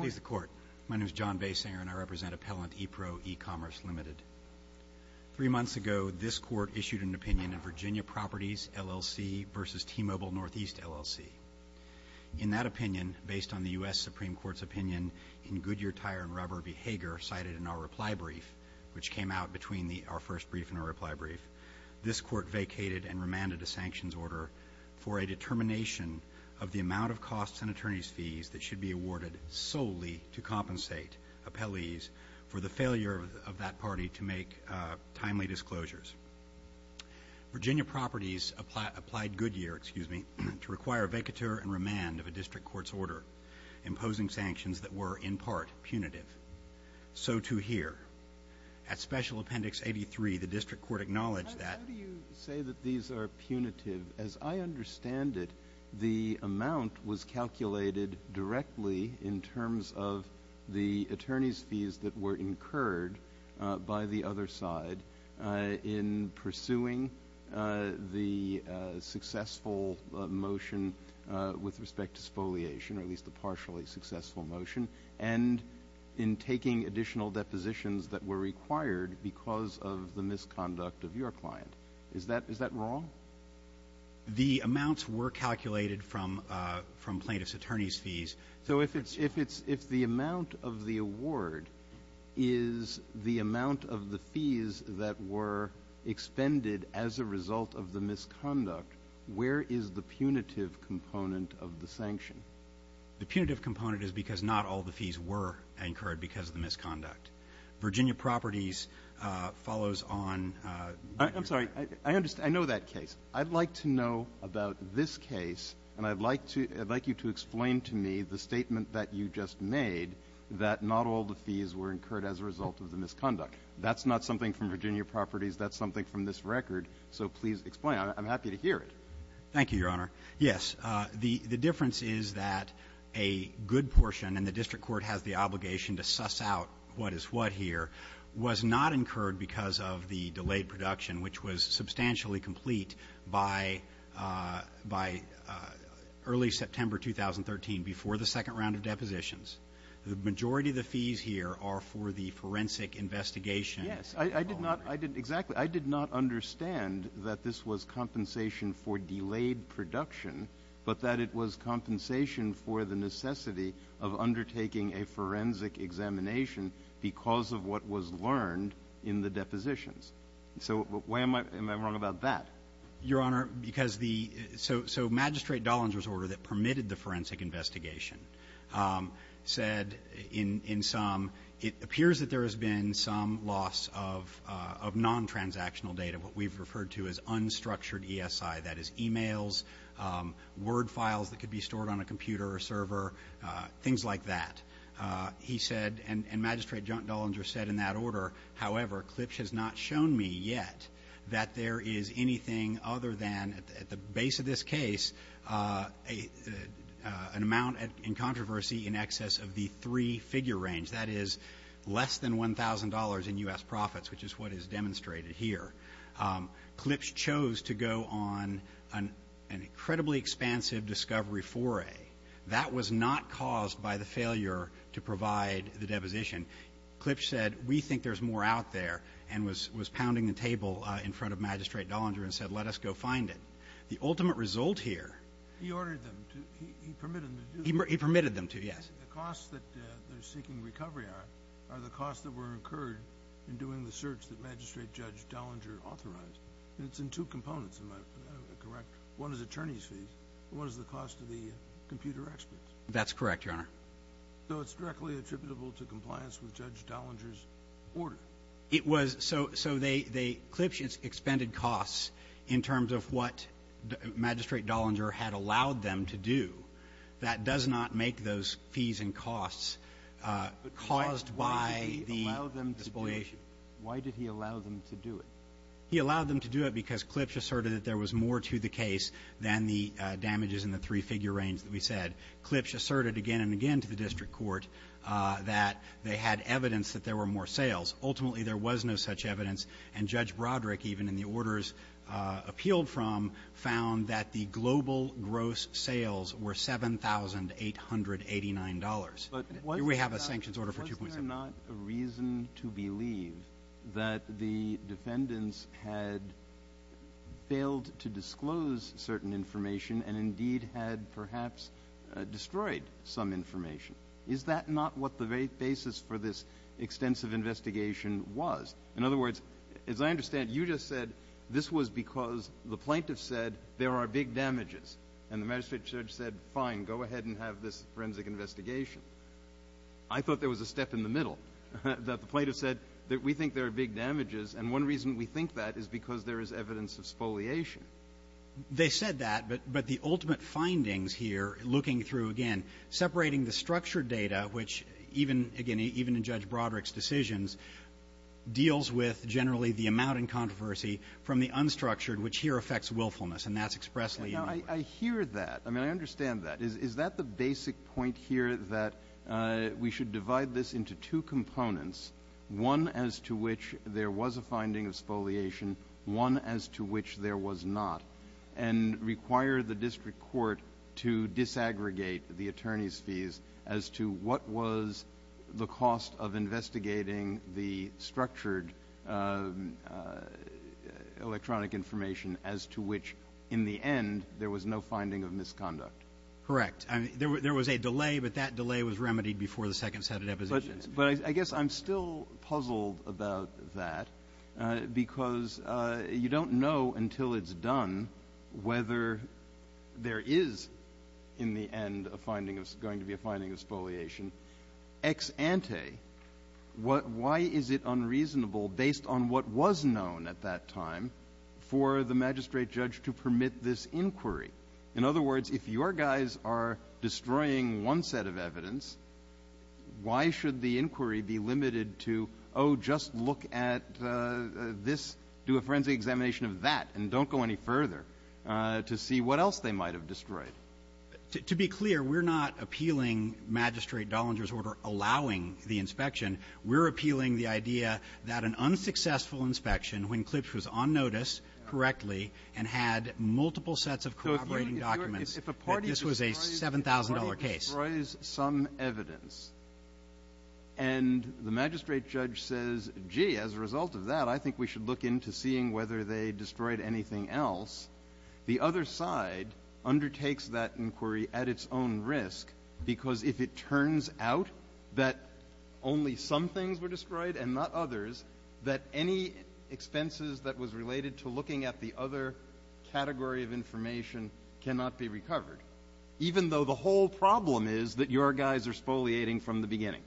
Please, the Court. My name is John Basinger and I represent Appellant EPRO E-Commerce Ltd. Three months ago, this Court issued an opinion in Virginia Properties LLC v. T-Mobile Northeast LLC. In that opinion, based on the U.S. Supreme Court's opinion in Goodyear Tire & Rubber v. Hager, cited in our reply brief, which came out between our first brief and our reply brief, this Court vacated and remanded a sanctions order for a determination of the amount of costs and attorneys' fees that should be awarded solely to compensate appellees for the failure of that party to make timely disclosures. Virginia Properties applied Goodyear to require a vacatur and remand of a district court's order, imposing sanctions that were, in part, punitive. So too here. At Special Appendix 83, the district court acknowledged that When you say that these are punitive, as I understand it, the amount was calculated directly in terms of the attorneys' fees that were incurred by the other side in pursuing the successful motion with respect to spoliation, or at least the partially successful motion, and in taking additional depositions that were required because of the misconduct of your client. Is that wrong? The amounts were calculated from plaintiff's attorneys' fees. So if the amount of the award is the amount of the fees that were expended as a result of the misconduct, where is the punitive component of the sanction? The punitive component is because not all the fees were incurred because of the misconduct. Virginia Properties follows on Goodyear. I'm sorry. I know that case. I'd like to know about this case, and I'd like you to explain to me the statement that you just made, that not all the fees were incurred as a result of the misconduct. That's not something from Virginia Properties. That's something from this record. So please explain. I'm happy to hear it. Thank you, Your Honor. Yes. The difference is that a good portion, and the district court has the obligation to suss out what is what here, was not incurred because of the delayed production, which was substantially complete by early September 2013, before the second round of depositions. The majority of the fees here are for the forensic investigation. Yes. Exactly. I did not understand that this was compensation for delayed production, but that it was compensation for the necessity of undertaking a forensic examination because of what was learned in the depositions. So am I wrong about that? Your Honor, so Magistrate Dollinger's order that permitted the forensic investigation said in sum, it appears that there has been some loss of non-transactional data, what we've referred to as unstructured ESI, that is, e-mails, Word files that could be stored on a computer or server, things like that. He said, and Magistrate Dollinger said in that order, however, CLPSH has not shown me yet that there is anything other than, at the base of this case, an amount in controversy in excess of the three-figure range, that is, less than $1,000 in U.S. profits, which is what is demonstrated here. CLPSH chose to go on an incredibly expansive discovery foray. That was not caused by the failure to provide the deposition. CLPSH said, we think there's more out there, and was pounding the table in front of Magistrate Dollinger and said, let us go find it. The ultimate result here. He ordered them to, he permitted them to do that? He permitted them to, yes. The costs that they're seeking recovery on are the costs that were incurred in doing the search that Magistrate Judge Dollinger authorized. And it's in two components, am I correct? One is attorney's fees, and one is the cost of the computer experts. That's correct, Your Honor. So it's directly attributable to compliance with Judge Dollinger's order? It was. So CLPSH expended costs in terms of what Magistrate Dollinger had allowed them to do. That does not make those fees and costs caused by the deposition. Why did he allow them to do it? He allowed them to do it because CLPSH asserted that there was more to the case than the damages in the three-figure range that we said. CLPSH asserted again and again to the district court that they had evidence that there were more sales. Ultimately, there was no such evidence. And Judge Broderick, even in the orders appealed from, found that the global gross sales were $7,889. Here we have a sanctions order for 2.7. But was there not a reason to believe that the defendants had failed to disclose certain information and indeed had perhaps destroyed some information? Is that not what the basis for this extensive investigation was? In other words, as I understand, you just said this was because the plaintiffs said there are big damages. And the magistrate judge said, fine, go ahead and have this forensic investigation. I thought there was a step in the middle, that the plaintiffs said that we think there are big damages. And one reason we think that is because there is evidence of spoliation. They said that. But the ultimate findings here, looking through, again, separating the structured data, which even, again, even in Judge Broderick's decisions, deals with generally the amount in controversy from the unstructured, which here affects willfulness. And that's expressly in the order. Now, I hear that. I mean, I understand that. Is that the basic point here, that we should divide this into two components, one as to which there was a finding of spoliation, one as to which there was not, and require the district court to disaggregate the attorney's fees as to what was the cost of investigating the structured electronic information as to which, in the end, there was no finding of misconduct? Correct. There was a delay, but that delay was remedied before the second set of depositions. But I guess I'm still puzzled about that because you don't know until it's done whether there is, in the end, a finding of going to be a finding of spoliation ex ante. Why is it unreasonable, based on what was known at that time, for the magistrate judge to permit this inquiry? In other words, if your guys are destroying one set of evidence, why should the inquiry be limited to, oh, just look at this, do a forensic examination of that, and don't go any further to see what else they might have destroyed? To be clear, we're not appealing Magistrate Dollinger's order allowing the inspection. We're appealing the idea that an unsuccessful inspection, when Klipsch was on notice correctly and had multiple sets of cooperating documents, that this was a $7,000 case. If a party destroys some evidence and the magistrate judge says, gee, as a result of that, I think we should look into seeing whether they destroyed anything else, the other side undertakes that inquiry at its own risk, because if it turns out that only some things were destroyed and not others, that any expenses that was related to looking at the other category of information cannot be recovered, even though the whole problem is that your guys are spoliating from the beginning.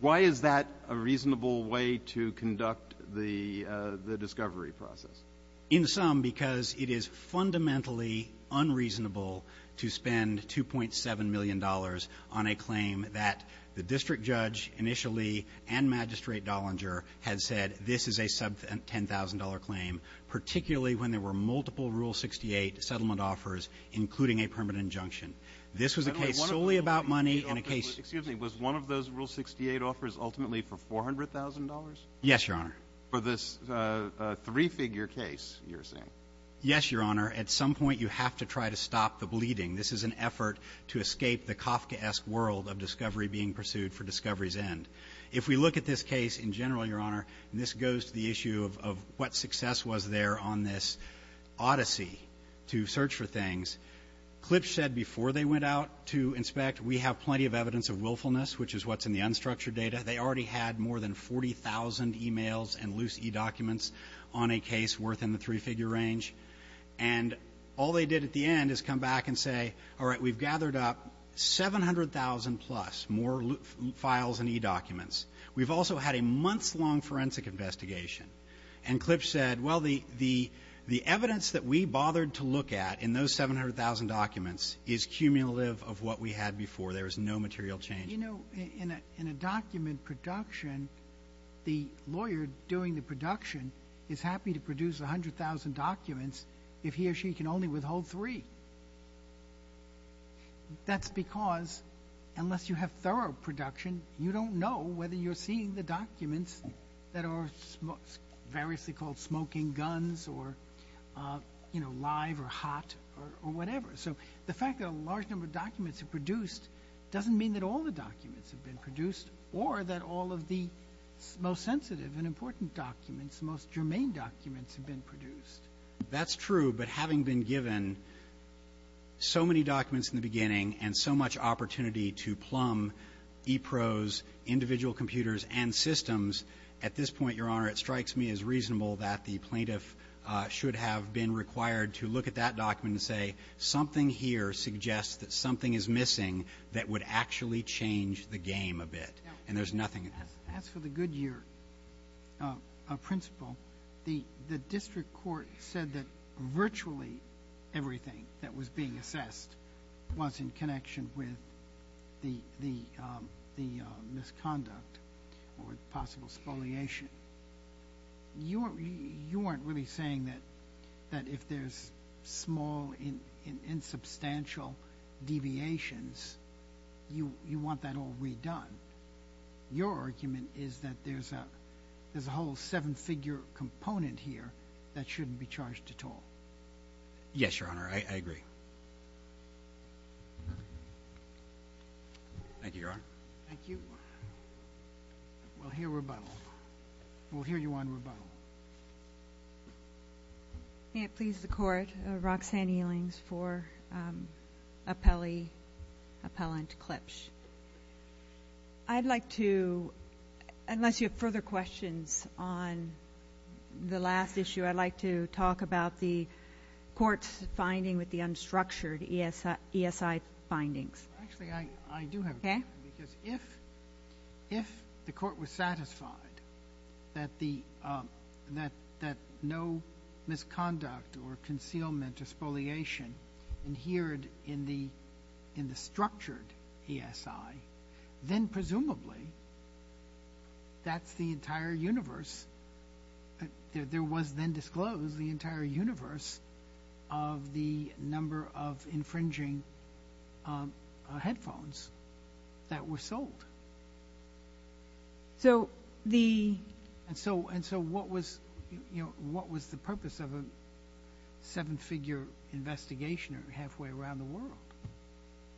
Why is that a reasonable way to conduct the discovery process? In sum, because it is fundamentally unreasonable to spend $2.7 million on a claim that the district judge initially and Magistrate Dollinger had said, this is a sub-$10,000 claim, particularly when there were multiple Rule 68 settlement offers, including a permanent injunction. This was a case solely about money and a case of the case. Excuse me. Was one of those Rule 68 offers ultimately for $400,000? Yes, Your Honor. For this three-figure case, you're saying? Yes, Your Honor. At some point, you have to try to stop the bleeding. This is an effort to escape the Kafkaesque world of discovery being pursued for discovery's end. If we look at this case in general, Your Honor, and this goes to the issue of what success was there on this odyssey to search for things, Klipsch said before they went out to inspect, we have plenty of evidence of willfulness, which is what's in the unstructured data. They already had more than 40,000 e-mails and loose e-documents on a case worth in the three-figure range. And all they did at the end is come back and say, all right, we've gathered up 700,000 plus more files and e-documents. We've also had a months-long forensic investigation. And Klipsch said, well, the evidence that we bothered to look at in those 700,000 documents is cumulative of what we had before. There was no material change. You know, in a document production, the lawyer doing the production is happy to produce 100,000 documents if he or she can only withhold three. That's because unless you have thorough production, you don't know whether you're seeing the documents that are variously called smoking guns or, you know, live or hot or whatever. So the fact that a large number of documents are produced doesn't mean that all the documents have been produced or that all of the most sensitive and important documents, the most important documents have been produced. That's true. But having been given so many documents in the beginning and so much opportunity to plumb e-pros, individual computers, and systems, at this point, Your Honor, it strikes me as reasonable that the plaintiff should have been required to look at that document and say, something here suggests that something is missing that would actually change the game a bit. And there's nothing in there. As for the Goodyear principle, the district court said that virtually everything that was being assessed was in connection with the misconduct or possible spoliation. You aren't really saying that if there's small, insubstantial deviations, you want that all redone. Your argument is that there's a whole seven-figure component here that shouldn't be charged at all. Yes, Your Honor. I agree. Thank you, Your Honor. Thank you. We'll hear rebuttal. We'll hear you on rebuttal. May it please the Court, Roxanne Ealings for appellee, appellant Klipsch. I'd like to, unless you have further questions on the last issue, I'd like to talk about the court's finding with the unstructured ESI findings. Actually, I do have a question. Okay. Because if the court was satisfied that no misconduct or concealment or spoliation adhered in the structured ESI, then presumably that's the entire universe, there was then disclosed the entire universe of the number of infringing headphones that were sold. Yes, Your Honor. And so what was the purpose of a seven-figure investigation halfway around the world?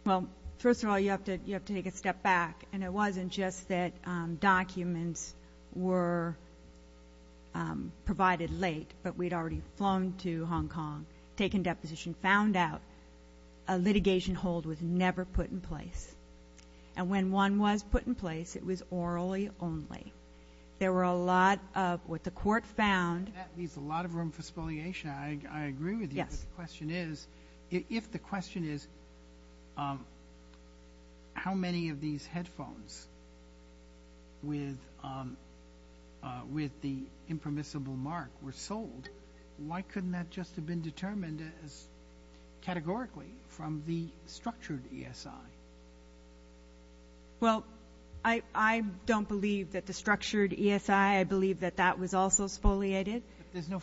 Well, first of all, you have to take a step back. And it wasn't just that documents were provided late, but we'd already flown to Hong Kong, taken deposition, found out a litigation hold was never put in place. And when one was put in place, it was orally only. There were a lot of what the court found That leaves a lot of room for spoliation. I agree with you. Yes. But the question is, if the question is how many of these headphones with the impermissible mark were sold, why couldn't that just have been determined categorically from the structured ESI? Well, I don't believe that the structured ESI, I believe that that was also spoliated. There's no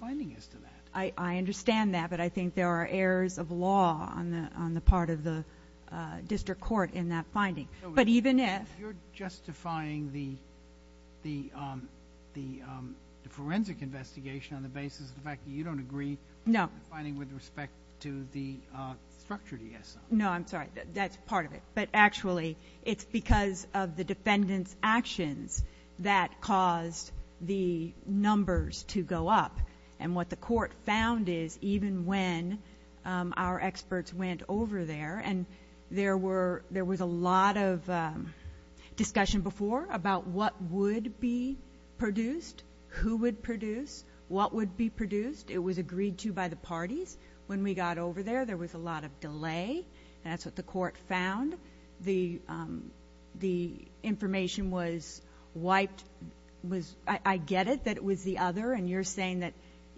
finding as to that. I understand that, but I think there are errors of law on the part of the district court in that finding. But even if You're justifying the forensic investigation on the basis of the fact that you don't agree No. with respect to the structured ESI. No, I'm sorry. That's part of it. But actually, it's because of the defendant's actions that caused the numbers to go up. And what the court found is, even when our experts went over there, and there was a lot of discussion before about what would be produced, who would produce, what would be produced. It was agreed to by the parties. When we got over there, there was a lot of delay, and that's what the court found. The information was wiped. I get it that it was the other, and you're saying that,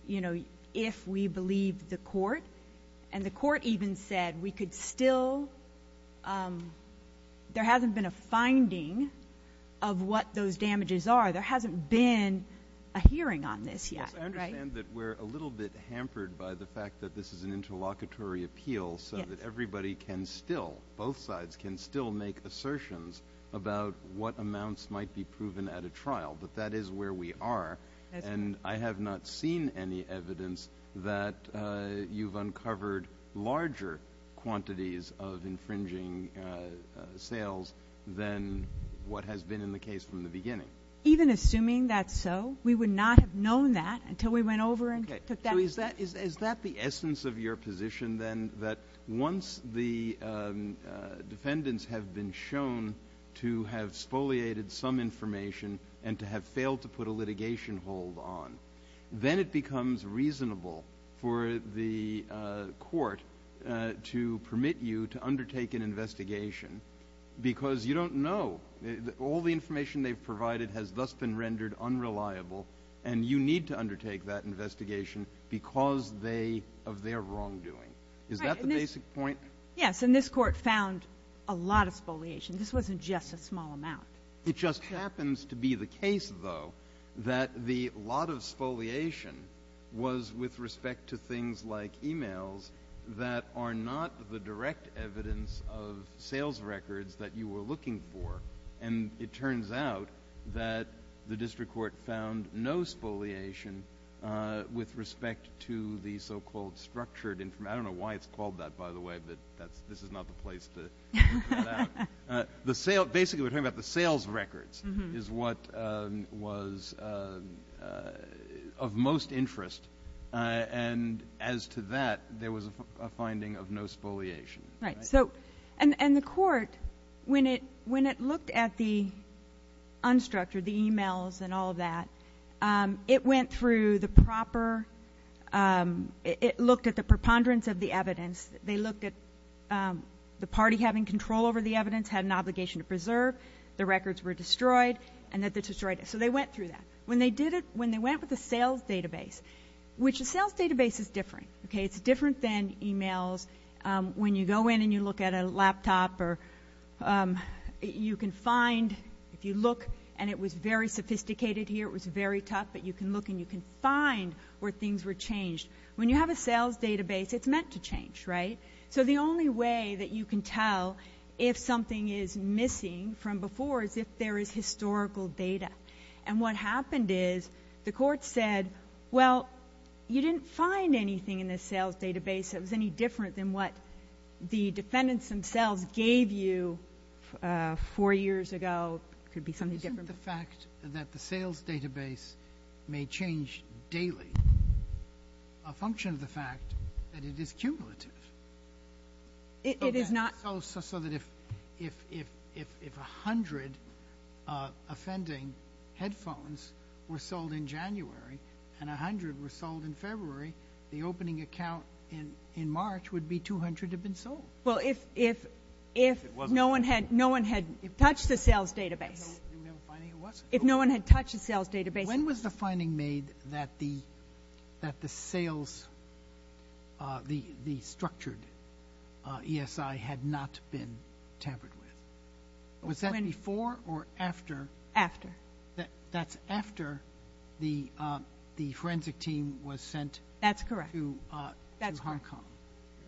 you know, if we believe the court. And the court even said we could still, there hasn't been a finding of what those damages are. There hasn't been a hearing on this yet, right? I understand that we're a little bit hampered by the fact that this is an interlocutory appeal so that everybody can still, both sides can still make assertions about what amounts might be proven at a trial. But that is where we are, and I have not seen any evidence that you've uncovered larger quantities of infringing sales than what has been in the case from the beginning. Even assuming that's so, we would not have known that until we went over and took that. So is that the essence of your position then, that once the defendants have been shown to have spoliated some information and to have failed to put a litigation hold on, then it becomes reasonable for the court to permit you to undertake an investigation because you don't know. All the information they've provided has thus been rendered unreliable, and you need to undertake that investigation because of their wrongdoing. Is that the basic point? Yes, and this court found a lot of spoliation. This wasn't just a small amount. It just happens to be the case, though, that the lot of spoliation was with respect to things like e-mails that are not the direct evidence of sales records that you were looking for. And it turns out that the district court found no spoliation with respect to the so-called structured information. I don't know why it's called that, by the way, but this is not the place to include that. Basically, we're talking about the sales records is what was of most interest. And as to that, there was a finding of no spoliation. Right. And the court, when it looked at the unstructured, the e-mails and all that, it went through the proper – it looked at the preponderance of the evidence. They looked at the party having control over the evidence, had an obligation to preserve, the records were destroyed, and that they destroyed it. So they went through that. When they did it – when they went with a sales database, which a sales database is different. Okay. It's different than e-mails. When you go in and you look at a laptop or you can find – if you look, and it was very sophisticated here, it was very tough, but you can look and you can find where things were changed. When you have a sales database, it's meant to change. Right. So the only way that you can tell if something is missing from before is if there is historical data. And what happened is the court said, well, you didn't find anything in this sales database that was any different than what the defendants themselves gave you four years ago. It could be something different. Isn't the fact that the sales database may change daily a function of the fact that it is cumulative? It is not. So if 100 offending headphones were sold in January and 100 were sold in February, the opening account in March would be 200 have been sold. Well, if no one had touched the sales database. If no one had touched the sales database. When was the finding made that the sales – the structured ESI had not been tampered with? Was that before or after? After. That's after the forensic team was sent to Hong Kong. That's correct.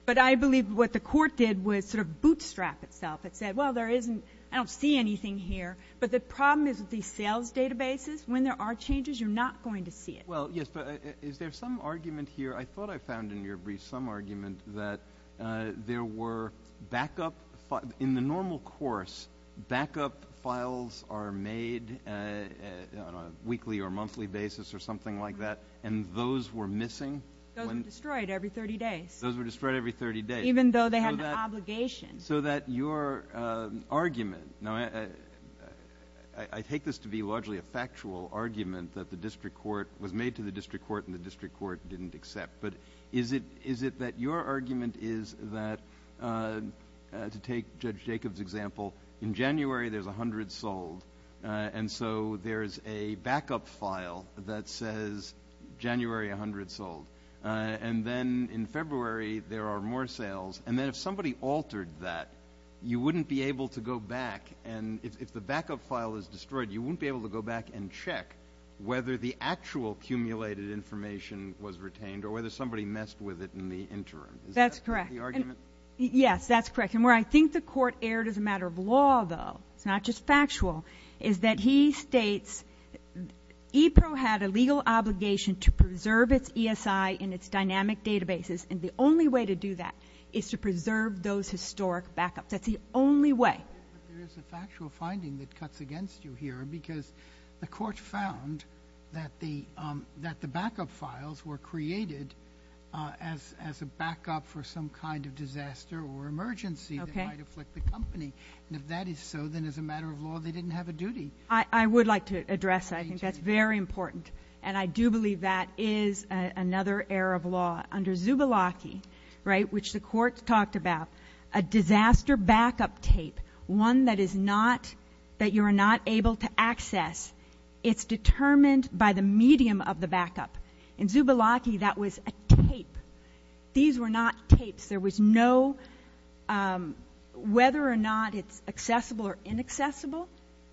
But I believe what the court did was sort of bootstrap itself. It said, well, there isn't – I don't see anything here, but the problem is with these sales databases, when there are changes, you're not going to see it. Well, yes, but is there some argument here? I thought I found in your brief some argument that there were backup – in the normal course, backup files are made on a weekly or monthly basis or something like that, and those were missing? Those were destroyed every 30 days. Those were destroyed every 30 days. Even though they had an obligation. So that your argument – now, I take this to be largely a factual argument that the district court – was made to the district court and the district court didn't accept, but is it that your argument is that – to take Judge Jacobs' example, in January there's 100 sold, and so there's a backup file that says January 100 sold, and then in February there are more sales, and then if somebody altered that, you wouldn't be able to go back, and if the backup file is destroyed, you wouldn't be able to go back and check whether the actual cumulated information was retained or whether somebody messed with it in the interim. That's correct. Is that the argument? Yes, that's correct. And where I think the court erred as a matter of law, though, it's not just factual, is that he states EPRO had a legal obligation to preserve its ESI in its dynamic databases, and the only way to do that is to preserve those historic backups. That's the only way. But there is a factual finding that cuts against you here because the court found that the backup files were created as a backup for some kind of disaster or emergency that might afflict the company, and if that is so, then as a matter of law they didn't have a duty. I would like to address that. I think that's very important, and I do believe that is another error of law. Under Zubilacki, which the court talked about, a disaster backup tape, one that you are not able to access, it's determined by the medium of the backup. In Zubilacki, that was a tape. These were not tapes. There was no... Whether or not it's accessible or inaccessible,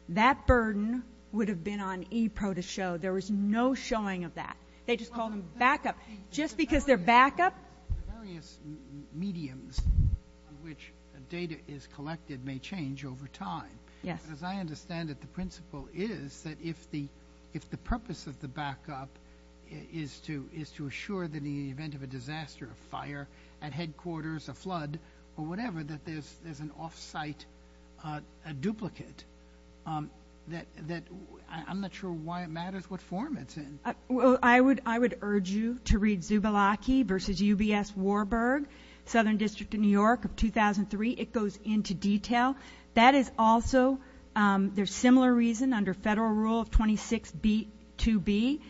that burden would have been on EPRO to show. There was no showing of that. They just called them backup just because they're backup. The various mediums in which data is collected may change over time. Yes. As I understand it, the principle is that if the purpose of the backup is to assure that in the event of a disaster, a fire at headquarters, a flood, or whatever, that there's an off-site duplicate, that I'm not sure why it matters what form it's in. Well, I would urge you to read Zubilacki v. UBS Warburg, Southern District of New York of 2003. It goes into detail. That is also... There's similar reason under Federal Rule 26b-2b.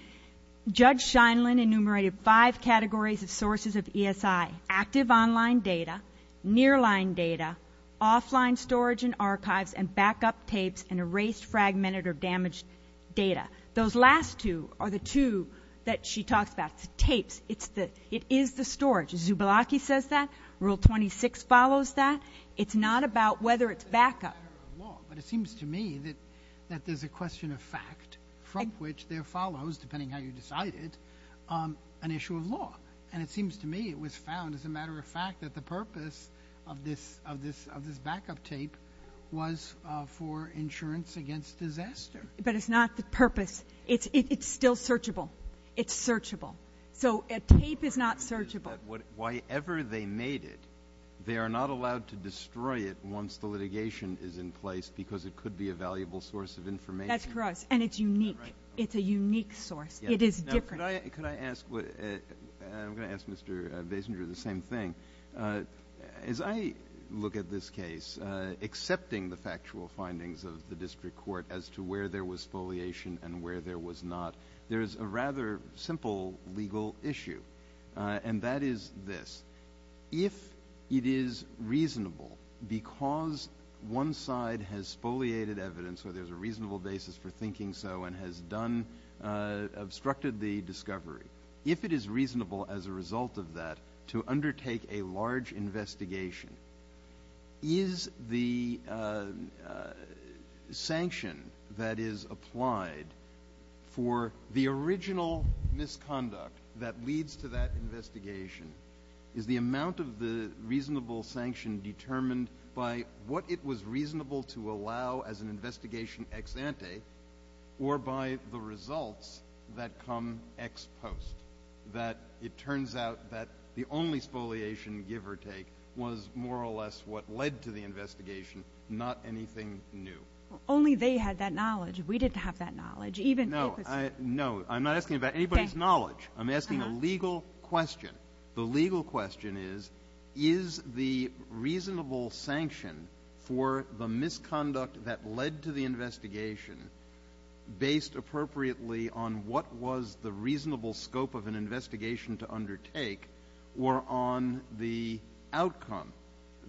Judge Scheinlin enumerated five categories of sources of ESI, active online data, near-line data, offline storage and archives, and backup tapes and erased, fragmented, or damaged data. Those last two are the two that she talks about, the tapes. It is the storage. Zubilacki says that. Rule 26 follows that. It's not about whether it's backup. But it seems to me that there's a question of fact from which there follows, depending how you decide it, an issue of law. And it seems to me it was found, as a matter of fact, that the purpose of this backup tape was for insurance against disaster. But it's not the purpose. It's still searchable. It's searchable. So a tape is not searchable. Whatever they made it, they are not allowed to destroy it once the litigation is in place because it could be a valuable source of information. That's correct. And it's unique. It's a unique source. It is different. Could I ask... I'm going to ask Mr. Basinger the same thing. As I look at this case, accepting the factual findings of the district court as to where there was spoliation and where there was not, there is a rather simple legal issue. And that is this. If it is reasonable, because one side has spoliated evidence or there's a reasonable basis for thinking so and has obstructed the discovery, if it is reasonable, as a result of that, to undertake a large investigation, is the sanction that is applied for the original misconduct that leads to that investigation is the amount of the reasonable sanction determined by what it was reasonable to allow as an investigation ex ante or by the results that come ex post? That it turns out that the only spoliation, give or take, was more or less what led to the investigation, not anything new. Only they had that knowledge. We didn't have that knowledge. No, I'm not asking about anybody's knowledge. I'm asking a legal question. The legal question is, is the reasonable sanction for the misconduct that led to the investigation based appropriately on what was the reasonable scope of an investigation to undertake or on the outcome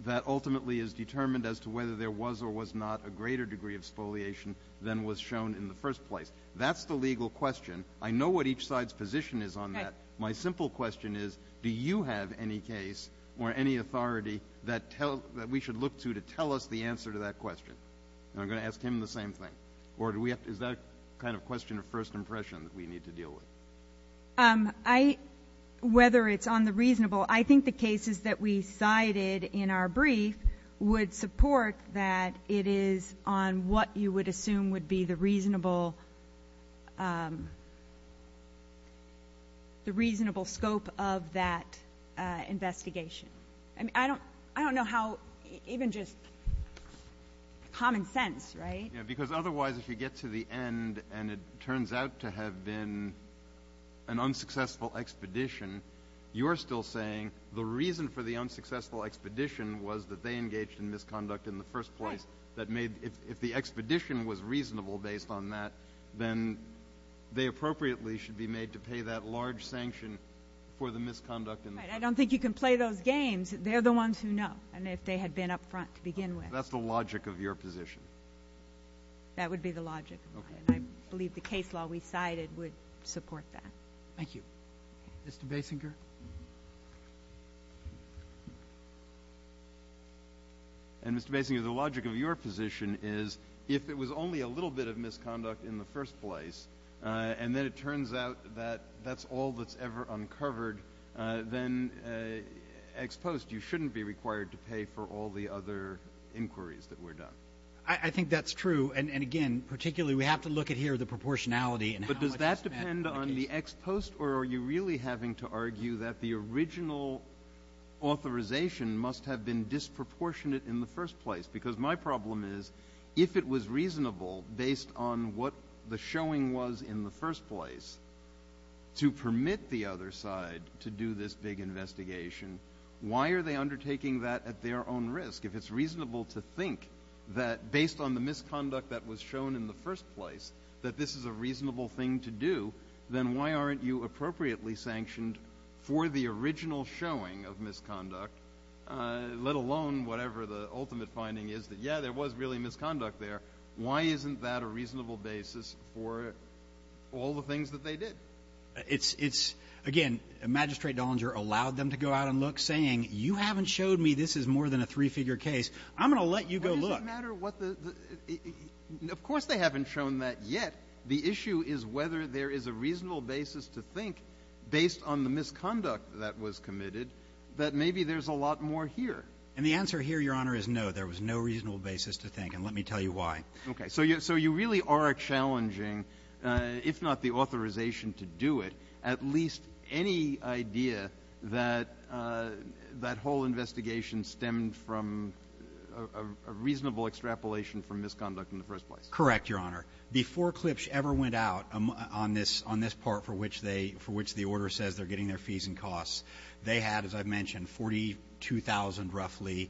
that ultimately is determined as to whether there was or was not a greater degree of spoliation than was shown in the first place? That's the legal question. I know what each side's position is on that. My simple question is, do you have any case or any authority that we should look to to tell us the answer to that question? And I'm going to ask him the same thing. Or is that a kind of question of first impression that we need to deal with? Um, I... Whether it's on the reasonable... I think the cases that we cited in our brief would support that it is on what you would assume would be the reasonable, um... the reasonable scope of that investigation. I mean, I don't know how... even just... common sense, right? Yeah, because otherwise, if you get to the end and it turns out to have been an unsuccessful expedition, you're still saying the reason for the unsuccessful expedition was that they engaged in misconduct in the first place. If the expedition was reasonable based on that, then they appropriately should be made to pay that large sanction for the misconduct in the first place. Right, I don't think you can play those games. They're the ones who know. And if they had been up front to begin with. That's the logic of your position. That would be the logic of mine. I believe the case law we cited would support that. Thank you. Mr. Basinger? And Mr. Basinger, the logic of your position is if it was only a little bit of misconduct in the first place and then it turns out that that's all that's ever uncovered, then ex post, you shouldn't be required to pay for all the other inquiries that were done. I think that's true. And again, particularly we have to look at here the proportionality. But does that depend on the ex post or are you really having to argue that the original authorization must have been disproportionate in the first place? Because my problem is, if it was reasonable based on what the showing was in the first place to permit the other side to do this big investigation, why are they undertaking that at their own risk? If it's reasonable to think that based on the misconduct that was shown in the first place that this is a reasonable thing to do, then why aren't you appropriately sanctioned for the original showing of misconduct let alone whatever the ultimate finding is that, yeah, there was really misconduct there. Why isn't that a reasonable basis for all the things that they did? It's, again, Magistrate Dollinger allowed them to go out and look, saying, you haven't showed me this is more than a three-figure case. I'm going to let you go look. Of course they haven't shown that yet. The issue is whether there is a reasonable basis to think based on the misconduct that was committed, that maybe there's a lot more here. And the answer here, Your Honor, is no. There was no reasonable basis to think, and let me tell you why. So you really are challenging if not the authorization to do it, at least any idea that that whole investigation stemmed from a reasonable extrapolation from misconduct in the first place. Correct, Your Honor. Before Klipsch ever went out on this part for which the order says they're getting their fees and costs, they had, as I've mentioned, 42,000 roughly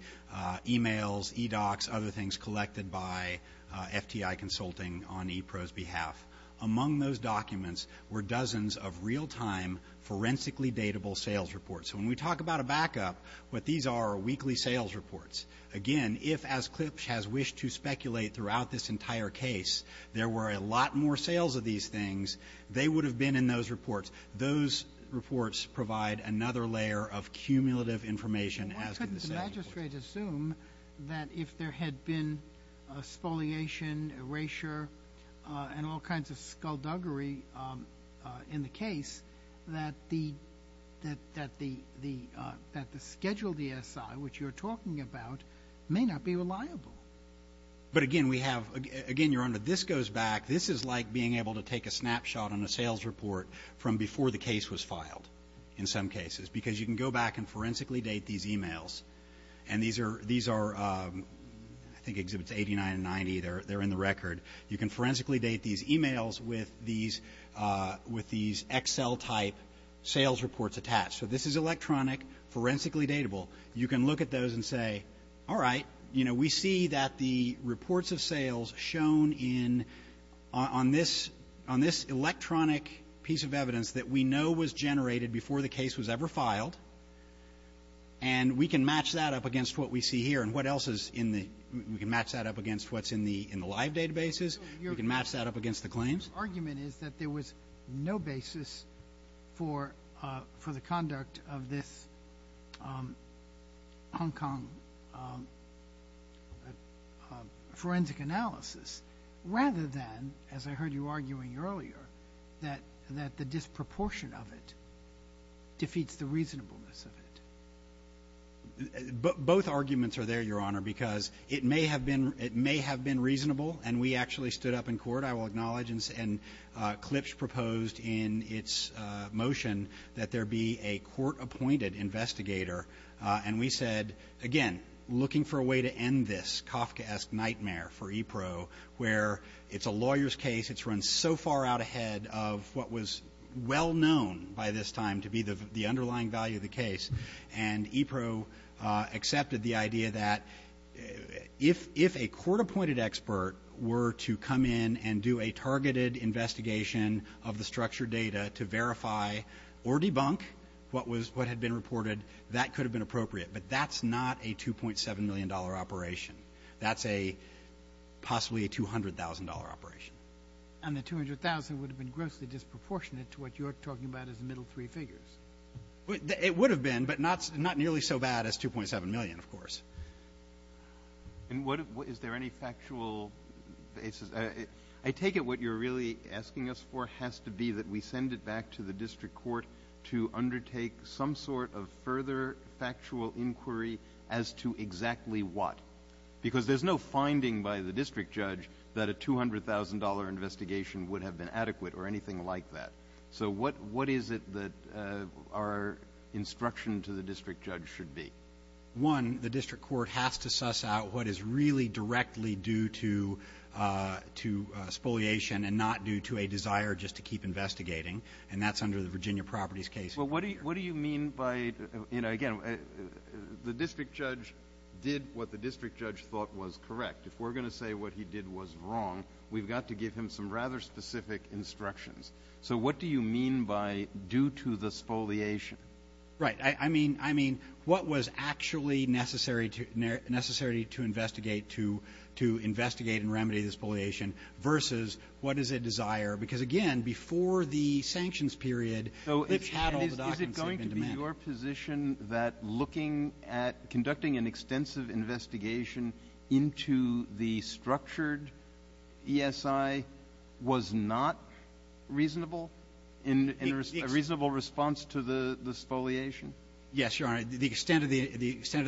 emails, e-docs, other things collected by FTI consulting on EPRO's behalf. Among those documents were dozens of real-time, forensically datable sales reports. So when we talk about a backup, what these are are weekly sales reports. Again, if, as Klipsch has wished to speculate throughout this entire case, there were a lot more sales of these things, they would have been in those reports. Those reports provide another layer of cumulative information as to the sales reports. Why couldn't the magistrate assume that if there had been spoliation, erasure, and all kinds of skullduggery in the case that the scheduled ESI, which you're talking about, may not be reliable? But again, we have, Your Honor, this goes back, this is like being able to take a snapshot on a sales report from before the case was filed in some cases, because you can go back and forensically date these emails and these are I think Exhibits 89 and 90, they're in the record. You can forensically date these emails with these Excel-type sales reports attached. So this is electronic, forensically datable. You can look at those and say, all right, we see that the reports of sales shown on this electronic piece of evidence that we know was generated before the case was ever filed and we can match that up against what we see here and what else is in the We can match that up against what's in the live databases. We can match that up against the claims. Your argument is that there was no basis for the conduct of this Hong Kong forensic analysis, rather than, as I heard you arguing earlier, that the disproportion of it defeats the reasonableness of it. Both arguments are there, Your Honor, because it may have been reasonable and we actually stood up in court, I will acknowledge and Klipsch proposed in its motion that there be a court-appointed investigator and we said again, looking for a way to end this Kafkaesque nightmare for EPRO where it's a lawyer's case, it's run so far out ahead of what was well-known by this time to be the underlying value of the case and EPRO accepted the idea that if a court-appointed expert were to come in and do a targeted investigation of the structured data to verify or debunk what had been reported, that could have been appropriate, but that's not a $2.7 million operation. That's a possibly a $200,000 operation. And the $200,000 would have been grossly disproportionate to what you're talking about as the middle three but not nearly so bad as $2.7 million of course. Is there any factual basis? I take it what you're really asking us for has to be that we send it back to the district court to undertake some sort of further factual inquiry as to exactly what? Because there's no finding by the district judge that a $200,000 investigation would have been adequate or anything like that. So what is it that our instruction to the district judge should be? One, the district court has to suss out what is really directly due to spoliation and not due to a desire just to keep investigating, and that's under the Virginia Properties case. What do you mean by... The district judge did what the district judge thought was correct. If we're going to say what he did was wrong we've got to give him some rather specific instructions. So what do you mean by due to the spoliation? Right. I mean what was actually necessary to investigate and remedy the spoliation versus what is a desire because again before the sanctions period Is it going to be your position that looking at conducting an extensive investigation into the structured ESI was not reasonable in a reasonable response to the spoliation? Yes, Your Honor. The extent of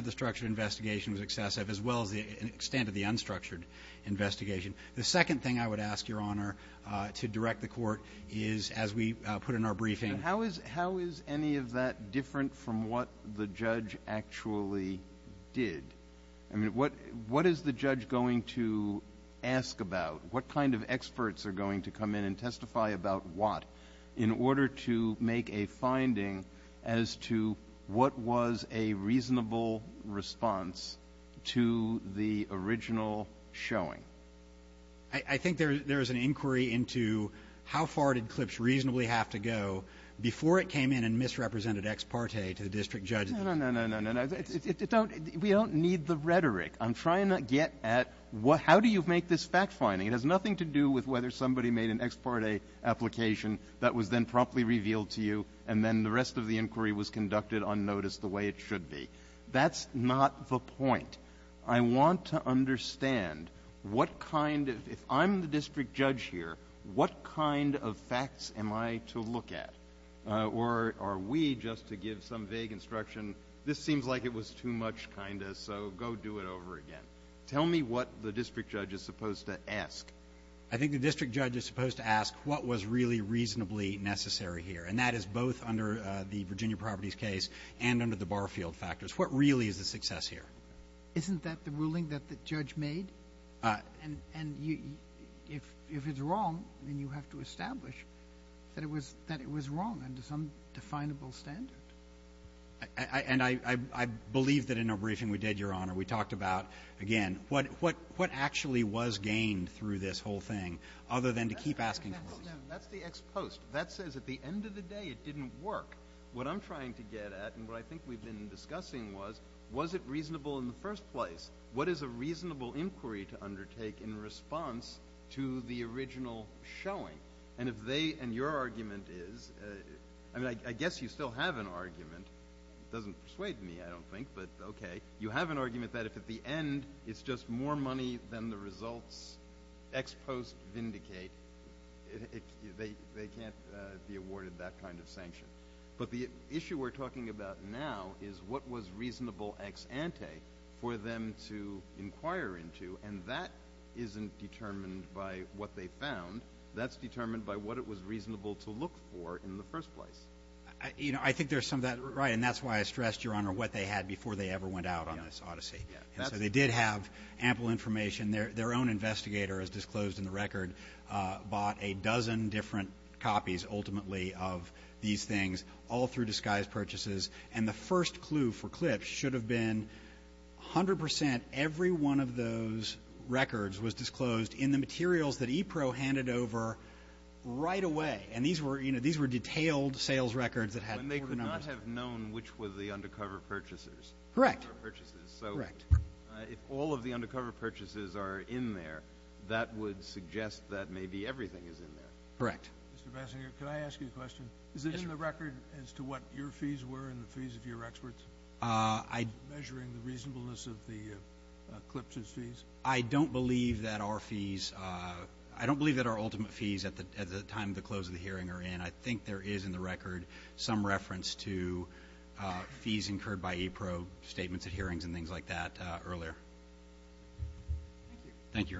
the structured investigation was excessive as well as the extent of the unstructured investigation. The second thing I would ask, Your Honor, to direct the court is as we put in our briefing... How is any of that different from what the judge actually did? What is the judge going to ask about? What kind of experts are going to come in and testify about what in order to make a finding as to what was a reasonable response to the original showing? I think there is an inquiry into how far did Klipsch reasonably have to go before it came in and misrepresented ex parte to the district judge? No, no, no. We don't need the rhetoric. I'm trying to get at how do you make this fact finding? It has nothing to do with whether somebody made an ex parte application that was then promptly revealed to you and then the rest of the inquiry was conducted unnoticed the way it should be. That's not the point. I want to understand what kind of... If I'm the district judge here, what kind of facts am I to look at? Or are we just to give some vague instruction this seems like it was too much kind of So go do it over again. Tell me what the district judge is supposed to ask. I think the district judge is supposed to ask what was really reasonably necessary here. And that is both under the Virginia Properties case and under the Barfield factors. What really is the success here? Isn't that the ruling that the judge made? And if it's wrong, then you have to establish that it was wrong under some definable standard. And I We talked about what actually was gained through this whole thing other than to keep asking questions. That says at the end of the day it didn't work. What I'm trying to get at and what I think we've been discussing was was it reasonable in the first place? What is a reasonable inquiry to undertake in response to the original showing? And your argument is I guess you still have an argument. It doesn't persuade me I don't think, but ok. You have an argument that if at the end it's just more money than the results ex post vindicate they can't be awarded that kind of sanction. But the issue we're talking about now is what was reasonable ex ante for them to inquire into and that isn't determined by what they found. That's determined by what it was reasonable to look for in the first place. I think there's some of that Right and that's why I stressed your honor what they had before they ever went out on this odyssey. They did have ample information their own investigator is disclosed in the record, bought a dozen different copies ultimately of these things all through disguised purchases and the first clue for Klipsch should have been 100% every one of those records was disclosed in the materials that EPRO handed over right away and these were detailed sales records that had been organized When they could not have known which were the undercover purchases Correct If all of the undercover purchases are in there that would suggest that maybe everything is in there Correct Can I ask you a question? Is it in the record as to what your fees were and the fees of your experts? Measuring the reasonableness of the Klipsch's fees? I don't believe that our fees I don't believe that our ultimate fees at the time of the hearing are in. I think there is in the record some reference to fees incurred by EPRO statements at hearings and things like that earlier Thank you